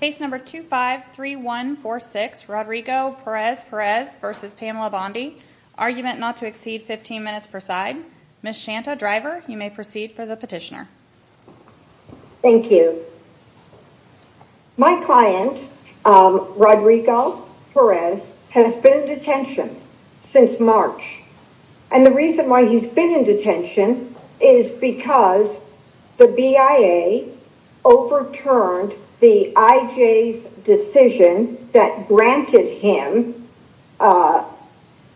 Case number 253146 Roderico Perez-Perez v. Pamela Bondi. Argument not to exceed 15 minutes per side. Ms. Shanta Driver, you may proceed for the petitioner. Thank you. My client, Roderico Perez, has been in detention since March and the reason why he's been in detention is because the BIA overturned the I.J.'s decision that granted him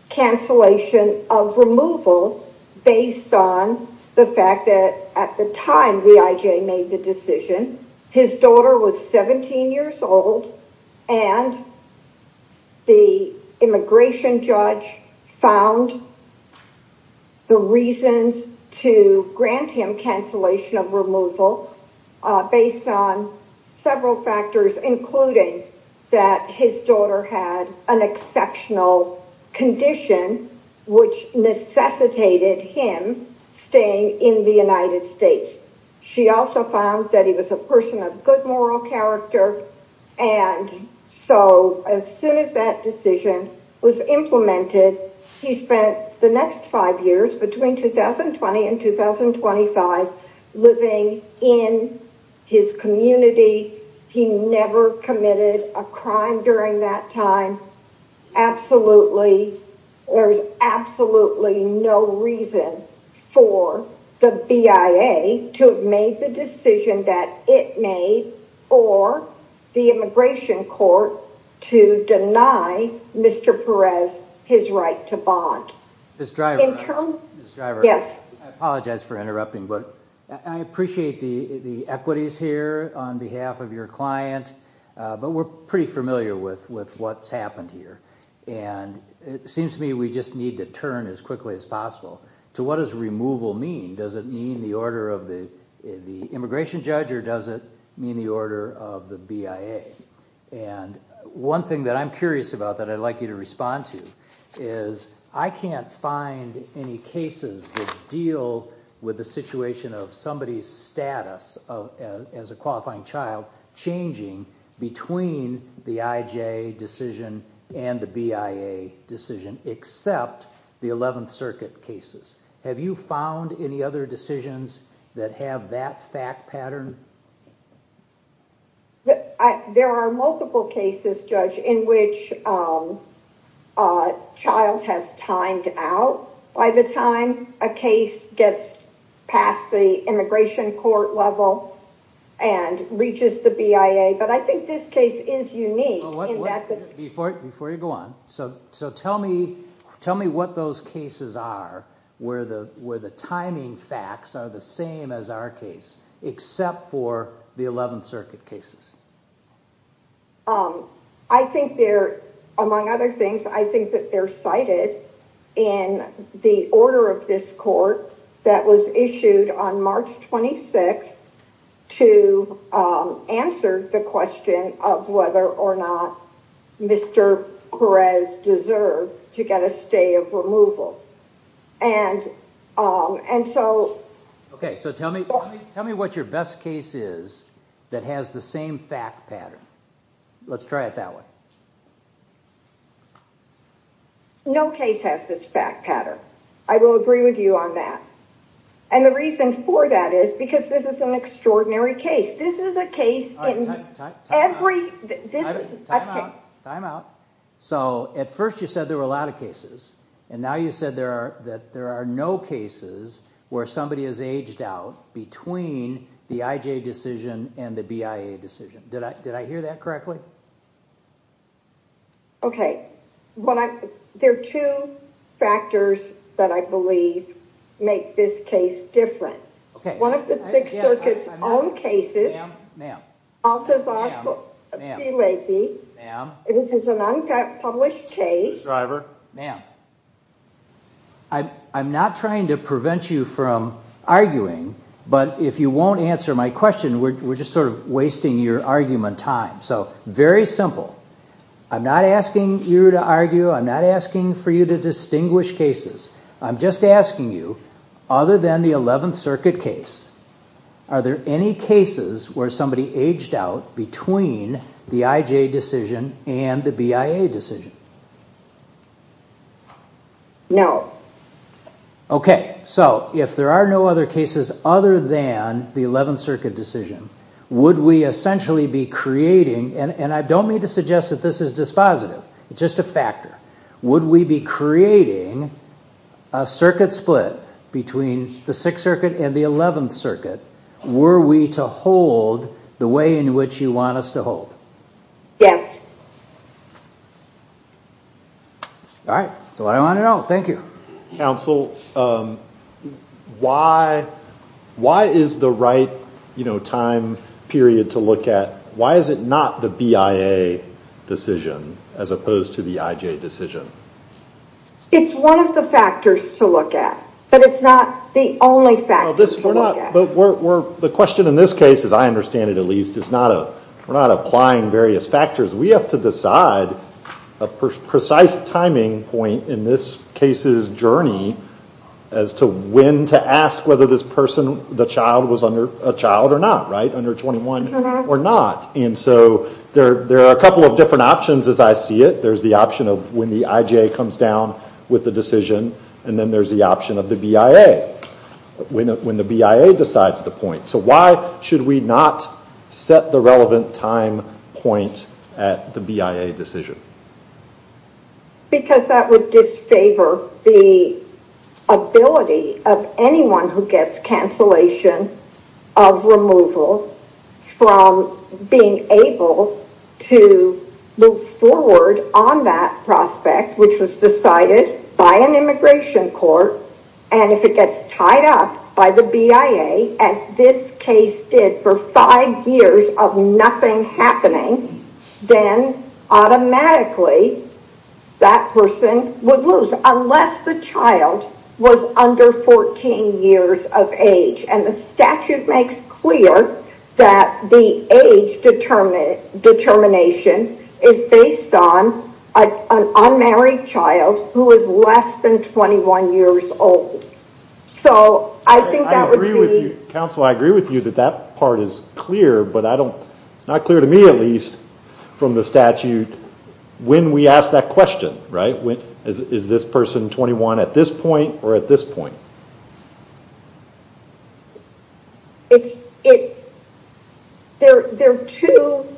cancellation of removal based on the fact that at the time the I.J. made the decision, his daughter was 17 years old and the immigration judge found the reasons to grant him cancellation of removal based on several factors including that his daughter had an exceptional condition which necessitated him staying in the United States. She also found that he was a person of good moral character and so as soon as that decision was implemented, he spent the next five years between 2020 and 2025 living in his community. He never committed a crime during that time. Absolutely, there's absolutely no reason for the BIA to have made the decision that it made or the immigration court to deny Mr. Perez his right to bond. Ms. Driver, I apologize for interrupting but I appreciate the the equities here on behalf of your client but we're pretty familiar with what's happened here and it seems to me we just need to turn as quickly as possible to what does removal mean? Does it mean the order of the immigration judge or does it mean the order of the BIA? One thing that I'm curious about that I'd like you to respond to is I can't find any cases that deal with the situation of somebody's status as a qualifying child changing between the IJ decision and the BIA decision except the 11th Circuit cases. Have you found any other decisions that have that fact pattern? There are multiple cases, Judge, in which a child has timed out by the time a case gets past the immigration court level and reaches the BIA but I think this case is unique. Before you go on, tell me what those cases are where the timing facts are the same as our case except for the 11th Circuit cases. I think they're, among other things, I think that they're cited in the order of this court that was issued on March 26th to answer the question of whether or not Mr. Perez deserved to get a stay of removal. Tell me what your best case is that has the same fact pattern. Let's try it that way. No case has this fact pattern. I will agree with you on that. The reason for that is because this is an extraordinary case. This is a case in every... Time out. At first you said there were a lot of cases and now you said that there are no cases where somebody has aged out between the IJ decision and the BIA decision. Did I hear that correctly? There are two factors that I believe make this case different. One of the Sixth Circuit's own cases. I'm not trying to prevent you from arguing, but if you won't answer my question, we're just sort of wasting your argument time. Very simple. I'm not asking you to argue. I'm not asking for you to distinguish cases. I'm just asking you, other than the 11th Circuit case, are there any cases where somebody aged out between the IJ decision and the BIA decision? No. Okay, so if there are no other cases other than the 11th Circuit decision, would we essentially be creating, and I don't mean to suggest that this is dispositive, it's just a factor, would we be creating a circuit split between the Sixth Circuit and the 11th Circuit? Were we to hold the way in which you want us to hold? Yes. All right, that's what I wanted to know. Thank you. Counsel, why is the right time period to not look at the BIA decision as opposed to the IJ decision? It's one of the factors to look at, but it's not the only factor to look at. The question in this case, as I understand it at least, is we're not applying various factors. We have to decide a precise timing point in this case's journey as to when to ask whether this person, the child, was a child or not, right? Or not. And so there are a couple of different options as I see it. There's the option of when the IJ comes down with the decision, and then there's the option of the BIA when the BIA decides the point. So why should we not set the relevant time point at the BIA decision? Because that would favor the ability of anyone who gets cancellation of removal from being able to move forward on that prospect, which was decided by an immigration court. And if it gets tied up by the BIA, as this case did for five years of nothing happening, then automatically that person would lose unless the child was under 14 years of age. And the statute makes clear that the age determination is based on an unmarried child who is less than 21 years old. So I think that would be... I agree with you, counsel. I agree with you that that part is clear, but it's not clear to me at least from the statute when we ask that question, right? Is this person 21 at this point or at this point? There are two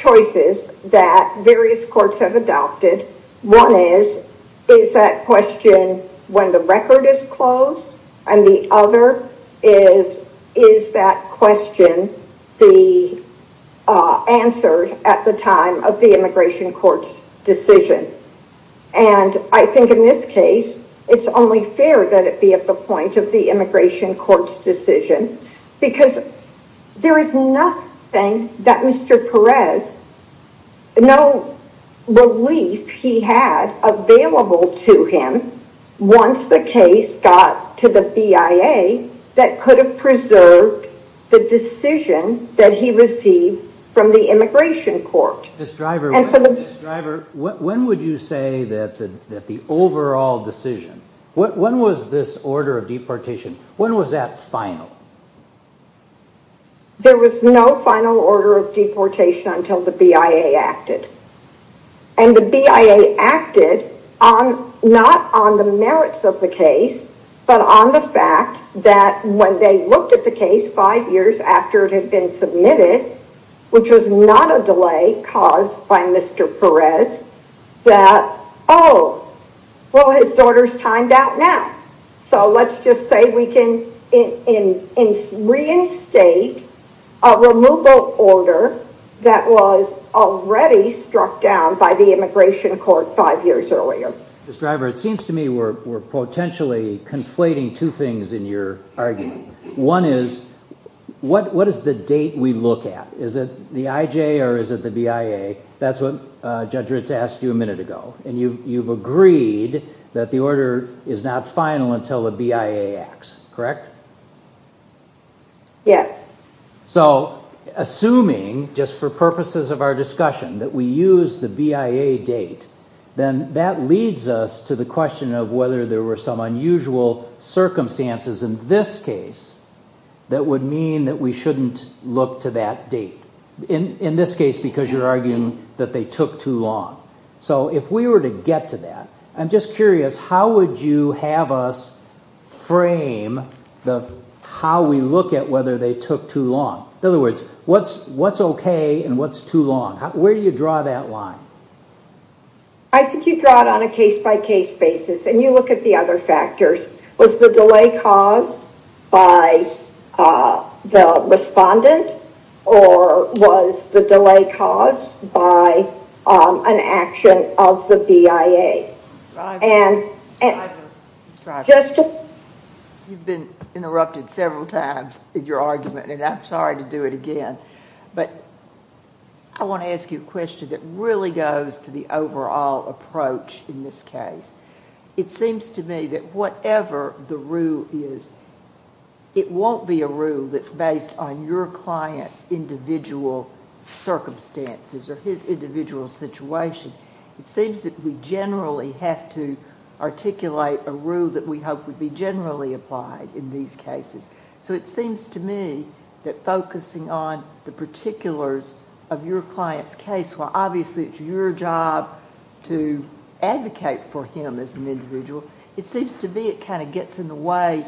choices that various courts have adopted. One is, is that question when the record is closed? And the other is, is that question the answer at the time of the immigration court's decision? And I think in this case, it's only fair that it be at the point of the immigration court's decision because there is nothing that Mr. Perez, no relief he had available to him once the case got to the BIA that could have preserved the decision that he received from the immigration court. When would you say that the overall decision, when was this order of deportation, when was that final? There was no final order of deportation until the BIA acted. And the BIA acted not on the merits of the case, but on the fact that when they looked at the case five years after it had been submitted, which was not a delay caused by Mr. Perez, that, oh, well, his daughter's timed out now. So let's just say we can reinstate a removal order that was already struck down by the immigration court five years earlier. Ms. Driver, it seems to me we're potentially conflating two things in your argument. One is, what is the date we look at? Is it the IJ or is it the BIA? That's what Judge Ritz asked you a minute ago. And you've agreed that the order is not final until the BIA acts, correct? Yes. So assuming, just for purposes of our discussion, that we use the BIA date, then that leads us to the question of whether there were some unusual circumstances in this case that would mean that we shouldn't look to that date. In this case, because you're arguing that they took too long. So if we were to get to that, I'm just curious, how would you have us frame how we look at whether they took too long? In other words, what's okay and what's too long? Where do you draw that line? I think you draw it on a case-by-case basis, and you look at the other factors. Was the delay caused by the respondent or was the delay caused by an action of the BIA? You've been interrupted several times in your argument, and I'm sorry to do it again. But I want to ask you a question that really goes to the overall approach in this case. It seems to me that whatever the rule is, it won't be a rule that's based on your client's individual circumstances or his individual situation. It seems that we generally have to articulate a rule that we hope would be generally applied in these cases. So it seems to me that focusing on the particulars of your client's case, while obviously it's your job to advocate for him as an individual, it seems to me it kind of gets in the way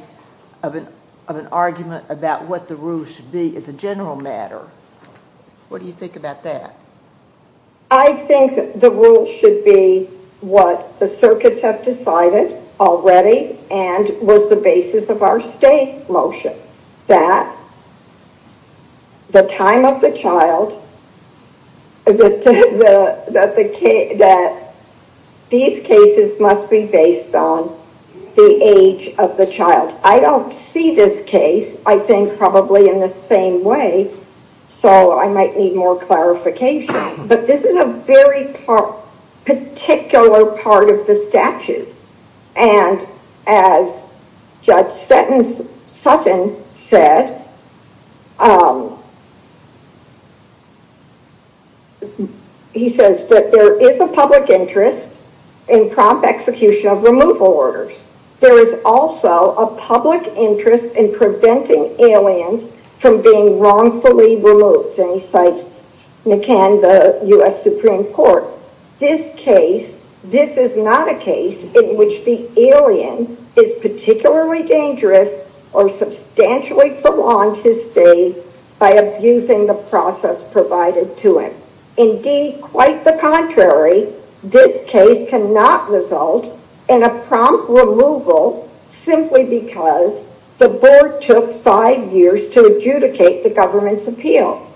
of an argument about what the rule should be as a general matter. What do you think about that? I think the rule should be what the circuits have decided already and was the basis of our state motion, that the time of the child, that these cases must be based on the age of the child. I don't see this case, I think probably in the same way, so I might need more clarification. But this is a very particular part of the statute, and as Judge Sutton said, he says that there is a public interest in prompt execution of removal from being wrongfully removed, and he cites McCann, the U.S. Supreme Court. This case, this is not a case in which the alien is particularly dangerous or substantially prolonged his stay by abusing the process provided to him. Indeed, quite the contrary, this case cannot result in a prompt removal simply because the board took five years to adjudicate the government's appeal.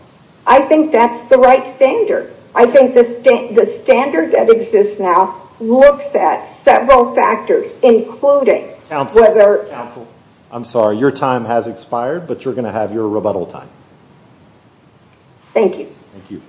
I think that's the right standard. I think the standard that exists now looks at several factors, including whether... Counsel, I'm sorry, your time has expired, but you're going to have your rebuttal time. Thank you.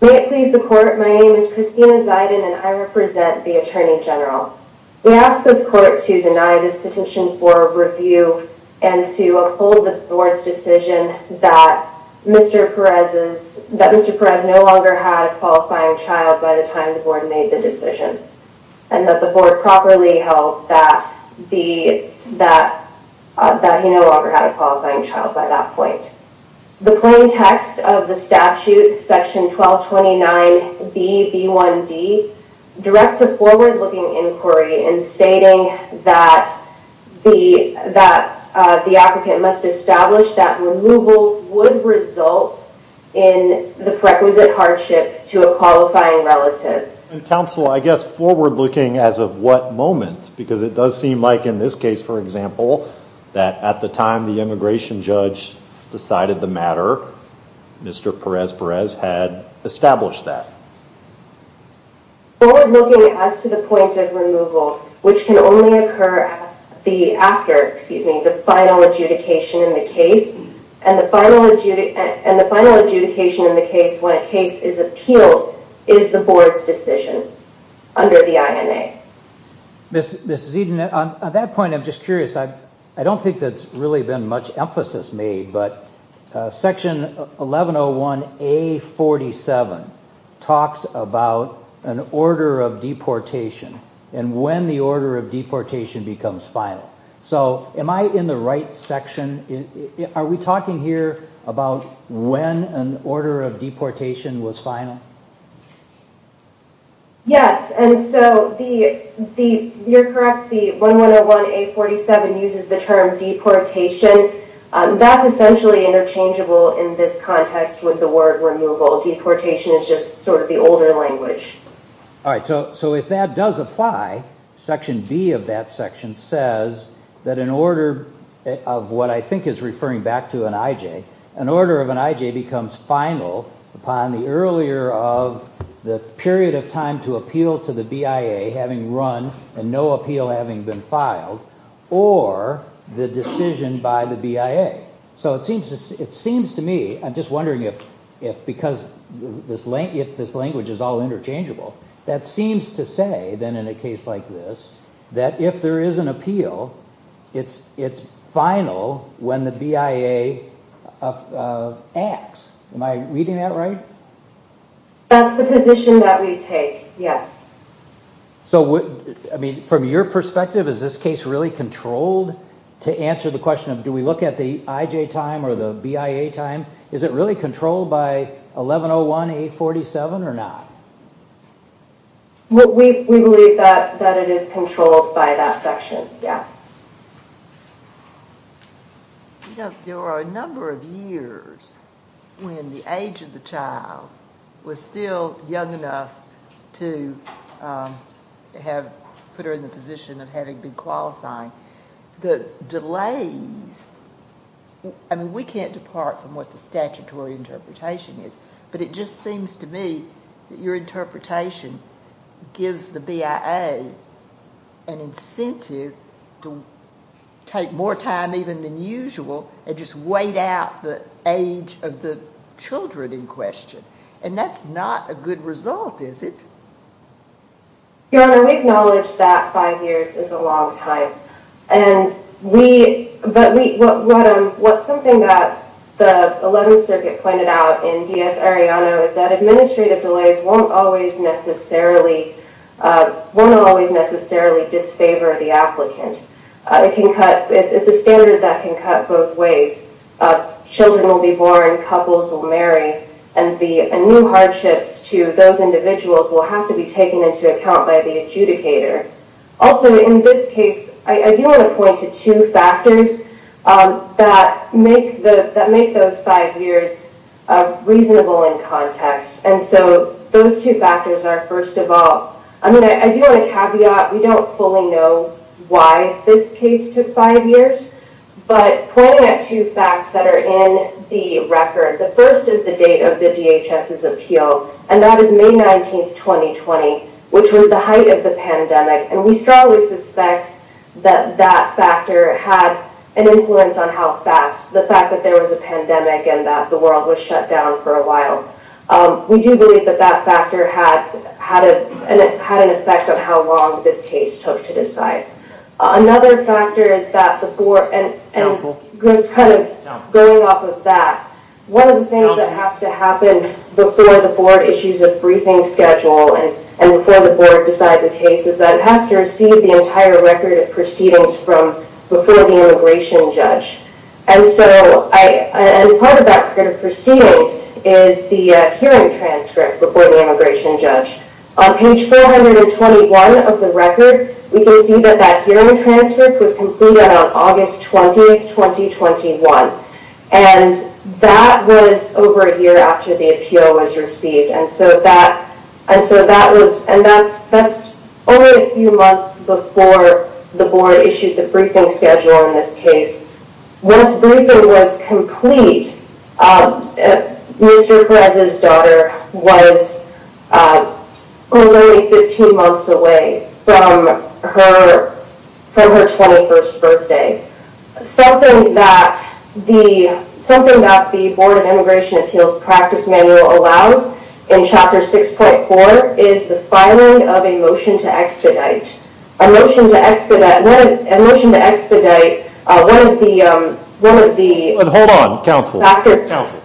May it please the court, my name is Christina Ziden and I represent the Attorney General. We ask this court to deny this petition for review and to uphold the board's decision that Mr. Perez no longer had a qualifying child by the time the board made the decision and that the board properly held that he no longer had a qualifying child by that point. The plain text of the statute, section 1229B.B.1.D. directs a forward-looking inquiry in stating that the applicant must establish that removal would result in the requisite hardship to a qualifying relative. Counsel, I guess forward-looking as of what moment? Because it does seem like in this case, for example, that at the time the immigration judge decided the matter, Mr. Perez Perez had established that. Forward-looking as to the point of removal, which can only occur after the final adjudication in the case and the final adjudication in the case when a case is appealed is the board's decision under the INA. Ms. Ziden, at that point I'm just curious. I don't think that's really been much emphasis made, but section 1101.A.47 talks about an order of deportation and when the order of deportation becomes final. So am I in the right section? Are we talking here about when an order of deportation was final? Yes, and so you're correct. The 1101.A.47 uses the term deportation. That's essentially interchangeable in this context with the word removal. Deportation is just sort of the older language. All right, so if that does apply, section B of that section says that an order of what I think is referring back to an IJ, an order of an IJ becomes final upon the earlier of the period of time to appeal to the BIA having run and no appeal having been filed or the decision by the BIA. So it seems to me, I'm just wondering if this language is all interchangeable, that seems to say then in a case like this that if there is an appeal, it's final when the BIA acts. Am I reading that right? That's the position that we take, yes. So I mean from your perspective, is this case really controlled? To answer the question of do we look at the IJ time or the BIA time, is it really controlled by 1101.A.47 or not? We believe that it is controlled by that section, yes. You know, there were a number of years when the age of the child was still young enough to have put her in the position of having been qualifying. The delays, I mean we can't depart from what the statutory interpretation is, but it just seems to me that your interpretation gives the BIA an incentive to take more time even than usual and just wait out the age of the children in question and that's not a good result, is it? Your Honor, we acknowledge that five years is a long time and we, but we, what something that 11th Circuit pointed out in D.S. Arellano is that administrative delays won't always necessarily, won't always necessarily disfavor the applicant. It can cut, it's a standard that can cut both ways. Children will be born, couples will marry, and the new hardships to those individuals will have to be taken into account by the adjudicator. Also in this case, I do want to point to two factors that make the, that make those five years reasonable in context and so those two factors are first of all, I mean I do want to caveat, we don't fully know why this case took five years, but pointing at two facts that are in the record, the first is the date of the DHS's appeal and that is May 19th, 2020, which was the height of the pandemic and we strongly suspect that that factor had an influence on how fast, the fact that there was a pandemic and that the world was shut down for a while. We do believe that that factor had an effect on how long this case took to decide. Another factor is that before, and just kind of going off of that, one of the things that has to happen before the board issues a briefing schedule and before the board decides a case is that it has to receive the entire record of proceedings from before the immigration judge and so I, and part of that record of proceedings is the hearing transcript before the immigration judge. On page 421 of the record, we can see that that hearing transcript was completed on August 20th, 2021 and that was over a year after the appeal was received and so that, and so that was, and that's, that's only a few months before the board issued the briefing schedule in this case. Once briefing was complete, Mr. Perez's daughter was, was only 15 months away from her, from her 21st birthday. Something that the, something that the board of immigration appeals practice manual allows in chapter 6.4 is the filing of a motion to expedite. A motion to expedite, a motion to expedite one of the, one of the, hold on counsel, counsel.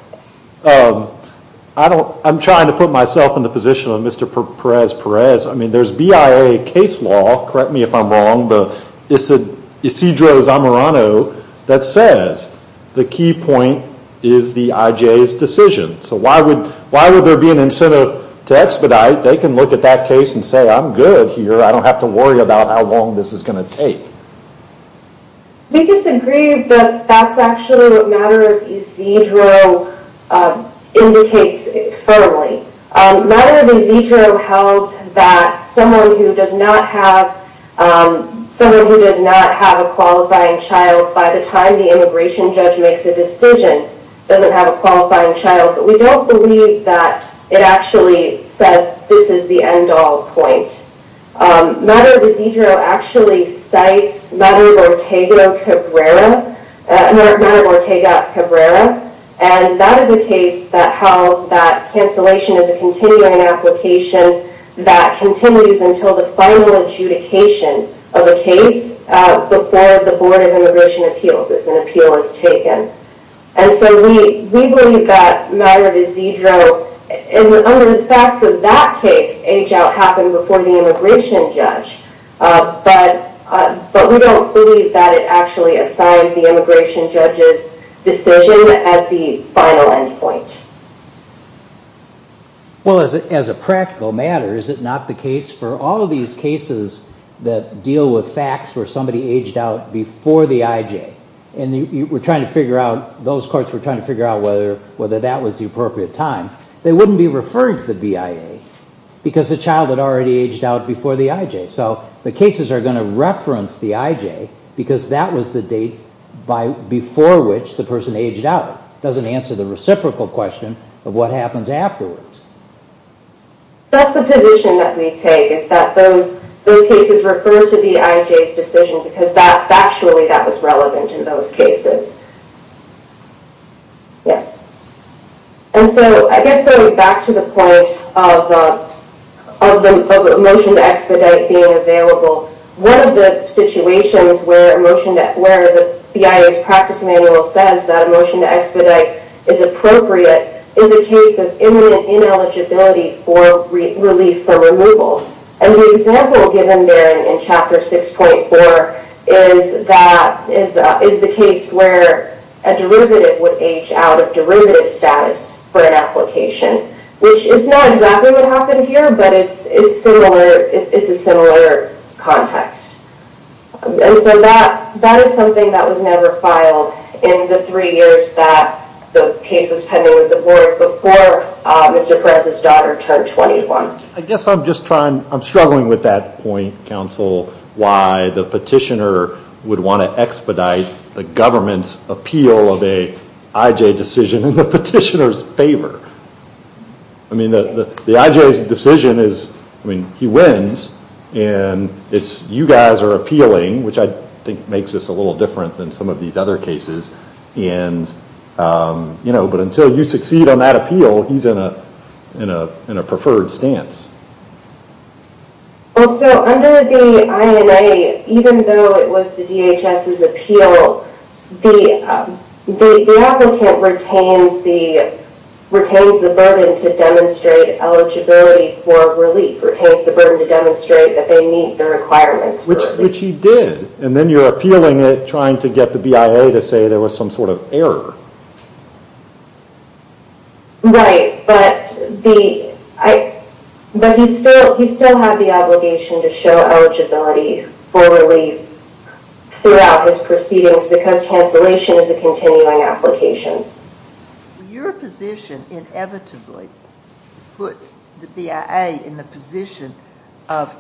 I don't, I'm trying to put myself in the position of Mr. Perez-Perez. I mean there's BIA case law, correct me if I'm wrong, but it's a Isidro Zamorano that says the key point is the IJ's decision. So why would, why would there be an incentive to expedite? They can look at that case and say I'm good here. I don't have to worry about how long this is going to take. We disagree that that's actually what Matar of Isidro indicates firmly. Matar of Isidro held that someone who does not have, someone who does not have a qualifying child by the time the immigration judge makes a decision doesn't have a qualifying child, but we don't believe that it actually says this is the end Cabrera, and that is a case that held that cancellation is a continuing application that continues until the final adjudication of a case before the Board of Immigration Appeals if an appeal is taken. And so we, we believe that Matar of Isidro, and under the facts of that case, age out happened before the immigration judge, but we don't believe that it actually assigned the immigration judge's decision as the final end point. Well, as a practical matter, is it not the case for all of these cases that deal with facts where somebody aged out before the IJ, and you were trying to figure out, those courts were trying to figure out whether, whether that was the appropriate time, they wouldn't be referring the BIA because the child had already aged out before the IJ. So the cases are going to reference the IJ because that was the date by, before which the person aged out. It doesn't answer the reciprocal question of what happens afterwards. That's the position that we take is that those, those cases refer to the IJ's decision because that factually, that was relevant in those cases. Yes. And so I guess going back to the point of, of the motion to expedite being available, one of the situations where a motion that, where the BIA's practice manual says that a motion to expedite is appropriate is a case of imminent ineligibility for relief for removal. And the a derivative would age out of derivative status for an application, which is not exactly what happened here, but it's, it's similar. It's a similar context. And so that, that is something that was never filed in the three years that the case was pending with the board before Mr. Perez's daughter turned 21. I guess I'm just trying, I'm struggling with that point, counsel, why the petitioner would want to expedite the government's appeal of a IJ decision in the petitioner's favor. I mean, the IJ's decision is, I mean, he wins and it's, you guys are appealing, which I think makes us a little different than some of these other cases. And, you know, but until you succeed on that appeal, he's in a, in a, in a preferred stance. Well, so under the INA, even though it was the DHS's appeal, the, the applicant retains the, retains the burden to demonstrate eligibility for relief, retains the burden to demonstrate that they meet the requirements for relief. Which he did. And then you're appealing it, trying to get the BIA to say there was some sort of error. Right. But the, I, but he's still, he's still had the obligation to show eligibility for relief throughout his proceedings because cancellation is a continuing application. Your position inevitably puts the BIA in the position of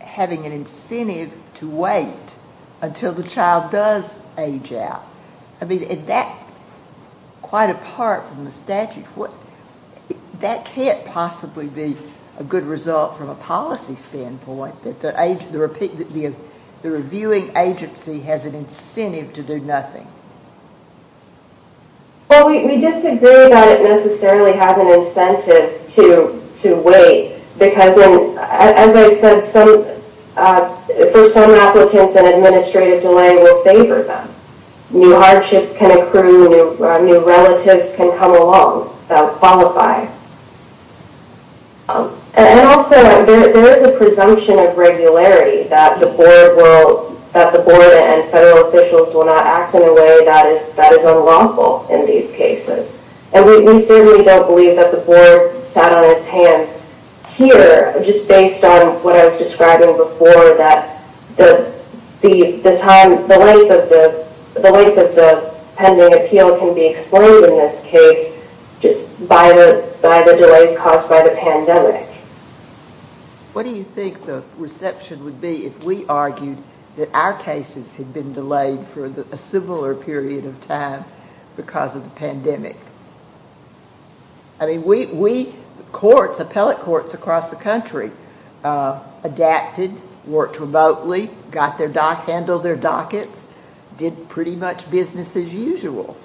having an incentive to wait until the child does age out. I mean, is that quite apart from the statute? What, that can't possibly be a good result from a policy standpoint that the age, the repeat, that the, the reviewing agency has an incentive to do nothing. Well, we disagree that it necessarily has an incentive to, to wait because as I said, some, for some applicants an administrative delay will favor them. New hardships can accrue, new, new relatives can come along, qualify. And also there is a presumption of regularity that the board will, that the board and federal officials will not act in a way that is, that is unlawful in these cases. And we certainly don't believe that the board sat on its hands here, just based on what I was describing before, that the, the, the time, the length of the, the length of the pending appeal can be explained in this case just by the, by the delays caused by the pandemic. What do you think the reception would be if we argued that our cases had been delayed for a similar period of time because of the pandemic? I mean, we, we courts, appellate courts across the country adapted, worked remotely, got their dock, handled their dockets, did pretty much business as usual.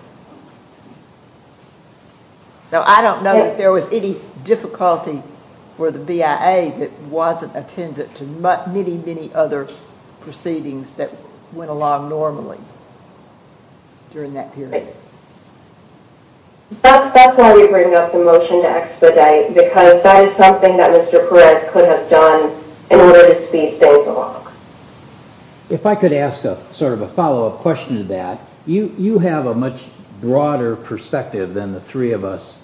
So I don't know if there was any difficulty for the BIA that wasn't attendant to many, many other proceedings that went along normally during that period. That's, that's why we bring up the motion to expedite because that is something that Mr. Perez could have done in order to speed things along. If I could ask a sort of a follow-up question to that, you, you have a much broader perspective than the three of us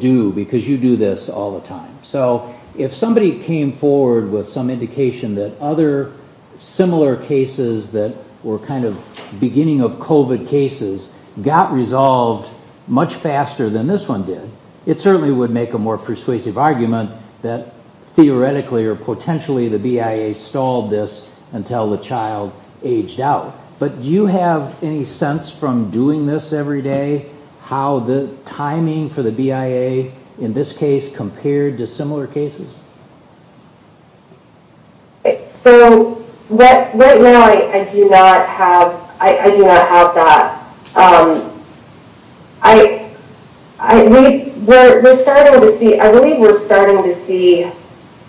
do because you do this all the time. So if somebody came forward with some indication that other similar cases that were kind of of COVID cases got resolved much faster than this one did, it certainly would make a more persuasive argument that theoretically or potentially the BIA stalled this until the child aged out. But do you have any sense from doing this every day, how the timing for the BIA in this case compared to similar cases? So what, right now I do not have, I do not have that. I, I, we, we're starting to see, I believe we're starting to see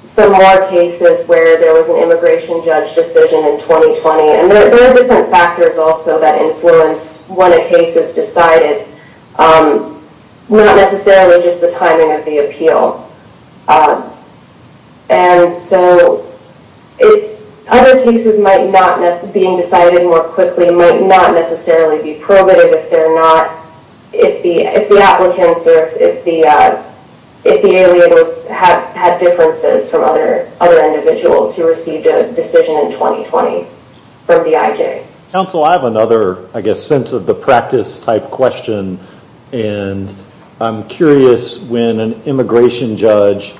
similar cases where there was an immigration judge decision in 2020. And there are different factors also that influence when a case is decided. Not necessarily just the timing of the appeal. And so it's, other cases might not, being decided more quickly might not necessarily be probative if they're not, if the, if the applicants or if the, if the aliables have had differences from other, other individuals who received a decision in 2020 from the IJ. Counsel, I have another, I guess, sense of the practice type question. And I'm curious when an immigration judge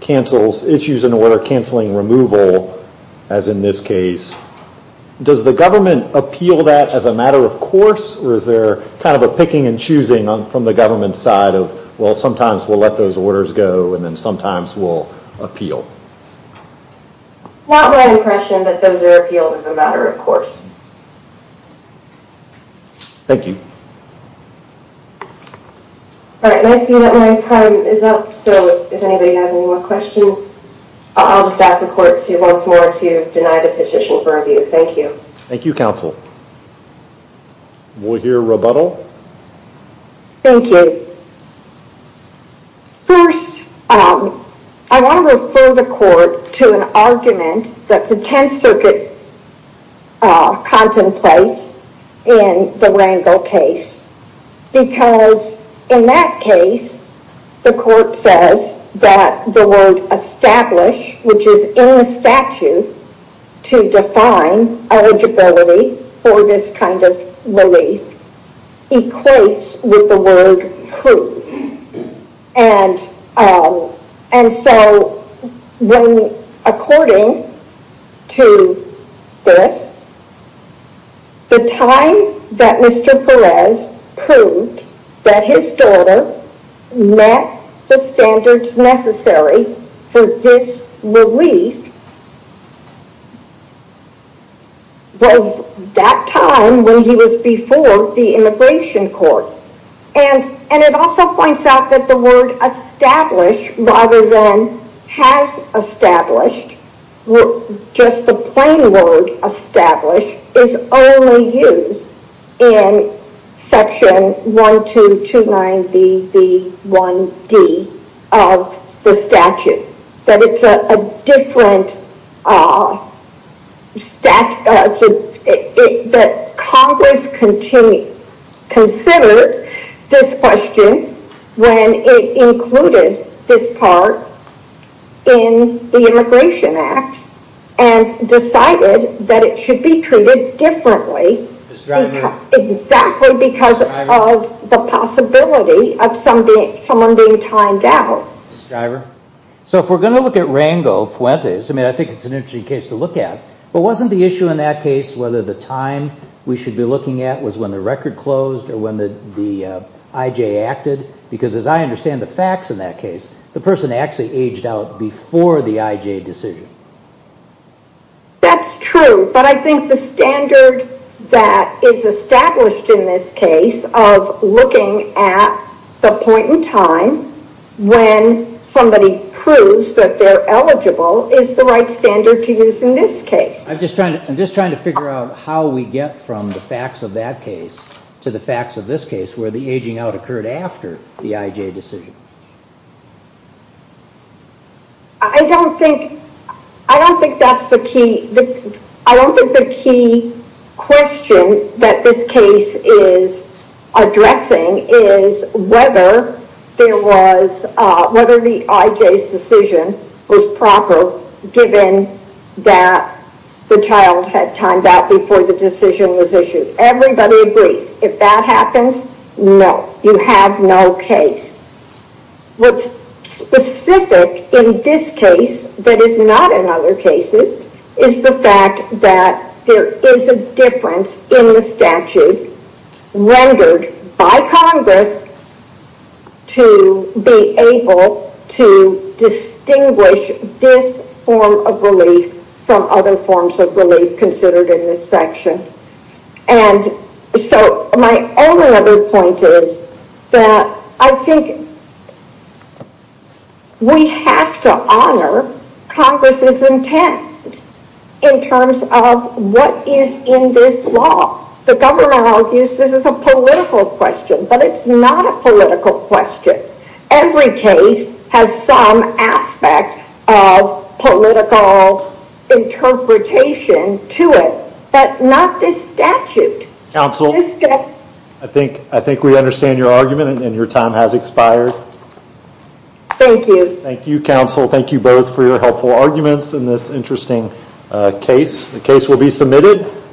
cancels, issues an order canceling removal, as in this case, does the government appeal that as a matter of course? Or is there kind of a picking and choosing on from the government side of, well, sometimes we'll let those orders go and then sometimes we'll appeal. Not my impression that those are appealed as a matter of course. Thank you. All right, I see that my time is up. So if anybody has any more questions, I'll just ask the court to once more to deny the petition for review. Thank you. Thank you, counsel. We'll hear rebuttal. Thank you. First, I want to refer the court to an argument that the 10th Circuit contemplates in the Rangel case. Because in that case, the court says that the word establish, which is in the statute to define eligibility for this kind of relief, equates with the word prove. And so when, according to this, the time that Mr. Perez proved that his daughter met the standards necessary for this relief was that time when he was before the immigration court. And it also points out that the word establish, rather than has established, just the plain word establish is only used in section 1229BB1D of the statute. That it's a different that Congress considered this question when it included this part in the Immigration Act and decided that it should be treated differently. Exactly because of the possibility of someone being timed out. Ms. Stryver? So if we're going to look at Rangel Fuentes, I mean, I think it's an interesting case to look at. But wasn't the issue in that case whether the time we should be looking at was when the record closed or when the IJ acted? Because as I understand the facts in that case, the person actually aged out before the IJ decision. That's true. But I think the standard that is established in this case of looking at the point in time when somebody proves that they're eligible is the right standard to use in this case. I'm just trying to figure out how we get from the facts of that case to the facts of this case where the aging out occurred after the IJ decision. I don't think that's the key. The question that this case is addressing is whether the IJ's decision was proper given that the child had timed out before the decision was issued. Everybody agrees. If that happens, no. You have no case. What's specific in this case that is not in other cases is the fact that there is a difference in the statute rendered by Congress to be able to distinguish this form of relief from other forms of relief considered in this section. And so my only other point is that I think we have to honor Congress's intent in terms of what is in this law. The government argues this is a political question, but it's not a political question. Every case has some aspect of political interpretation to it, but not this statute. I think we understand your argument and your time has expired. Thank you. Thank you counsel. Thank you both for your helpful arguments in this interesting case. The case will be submitted.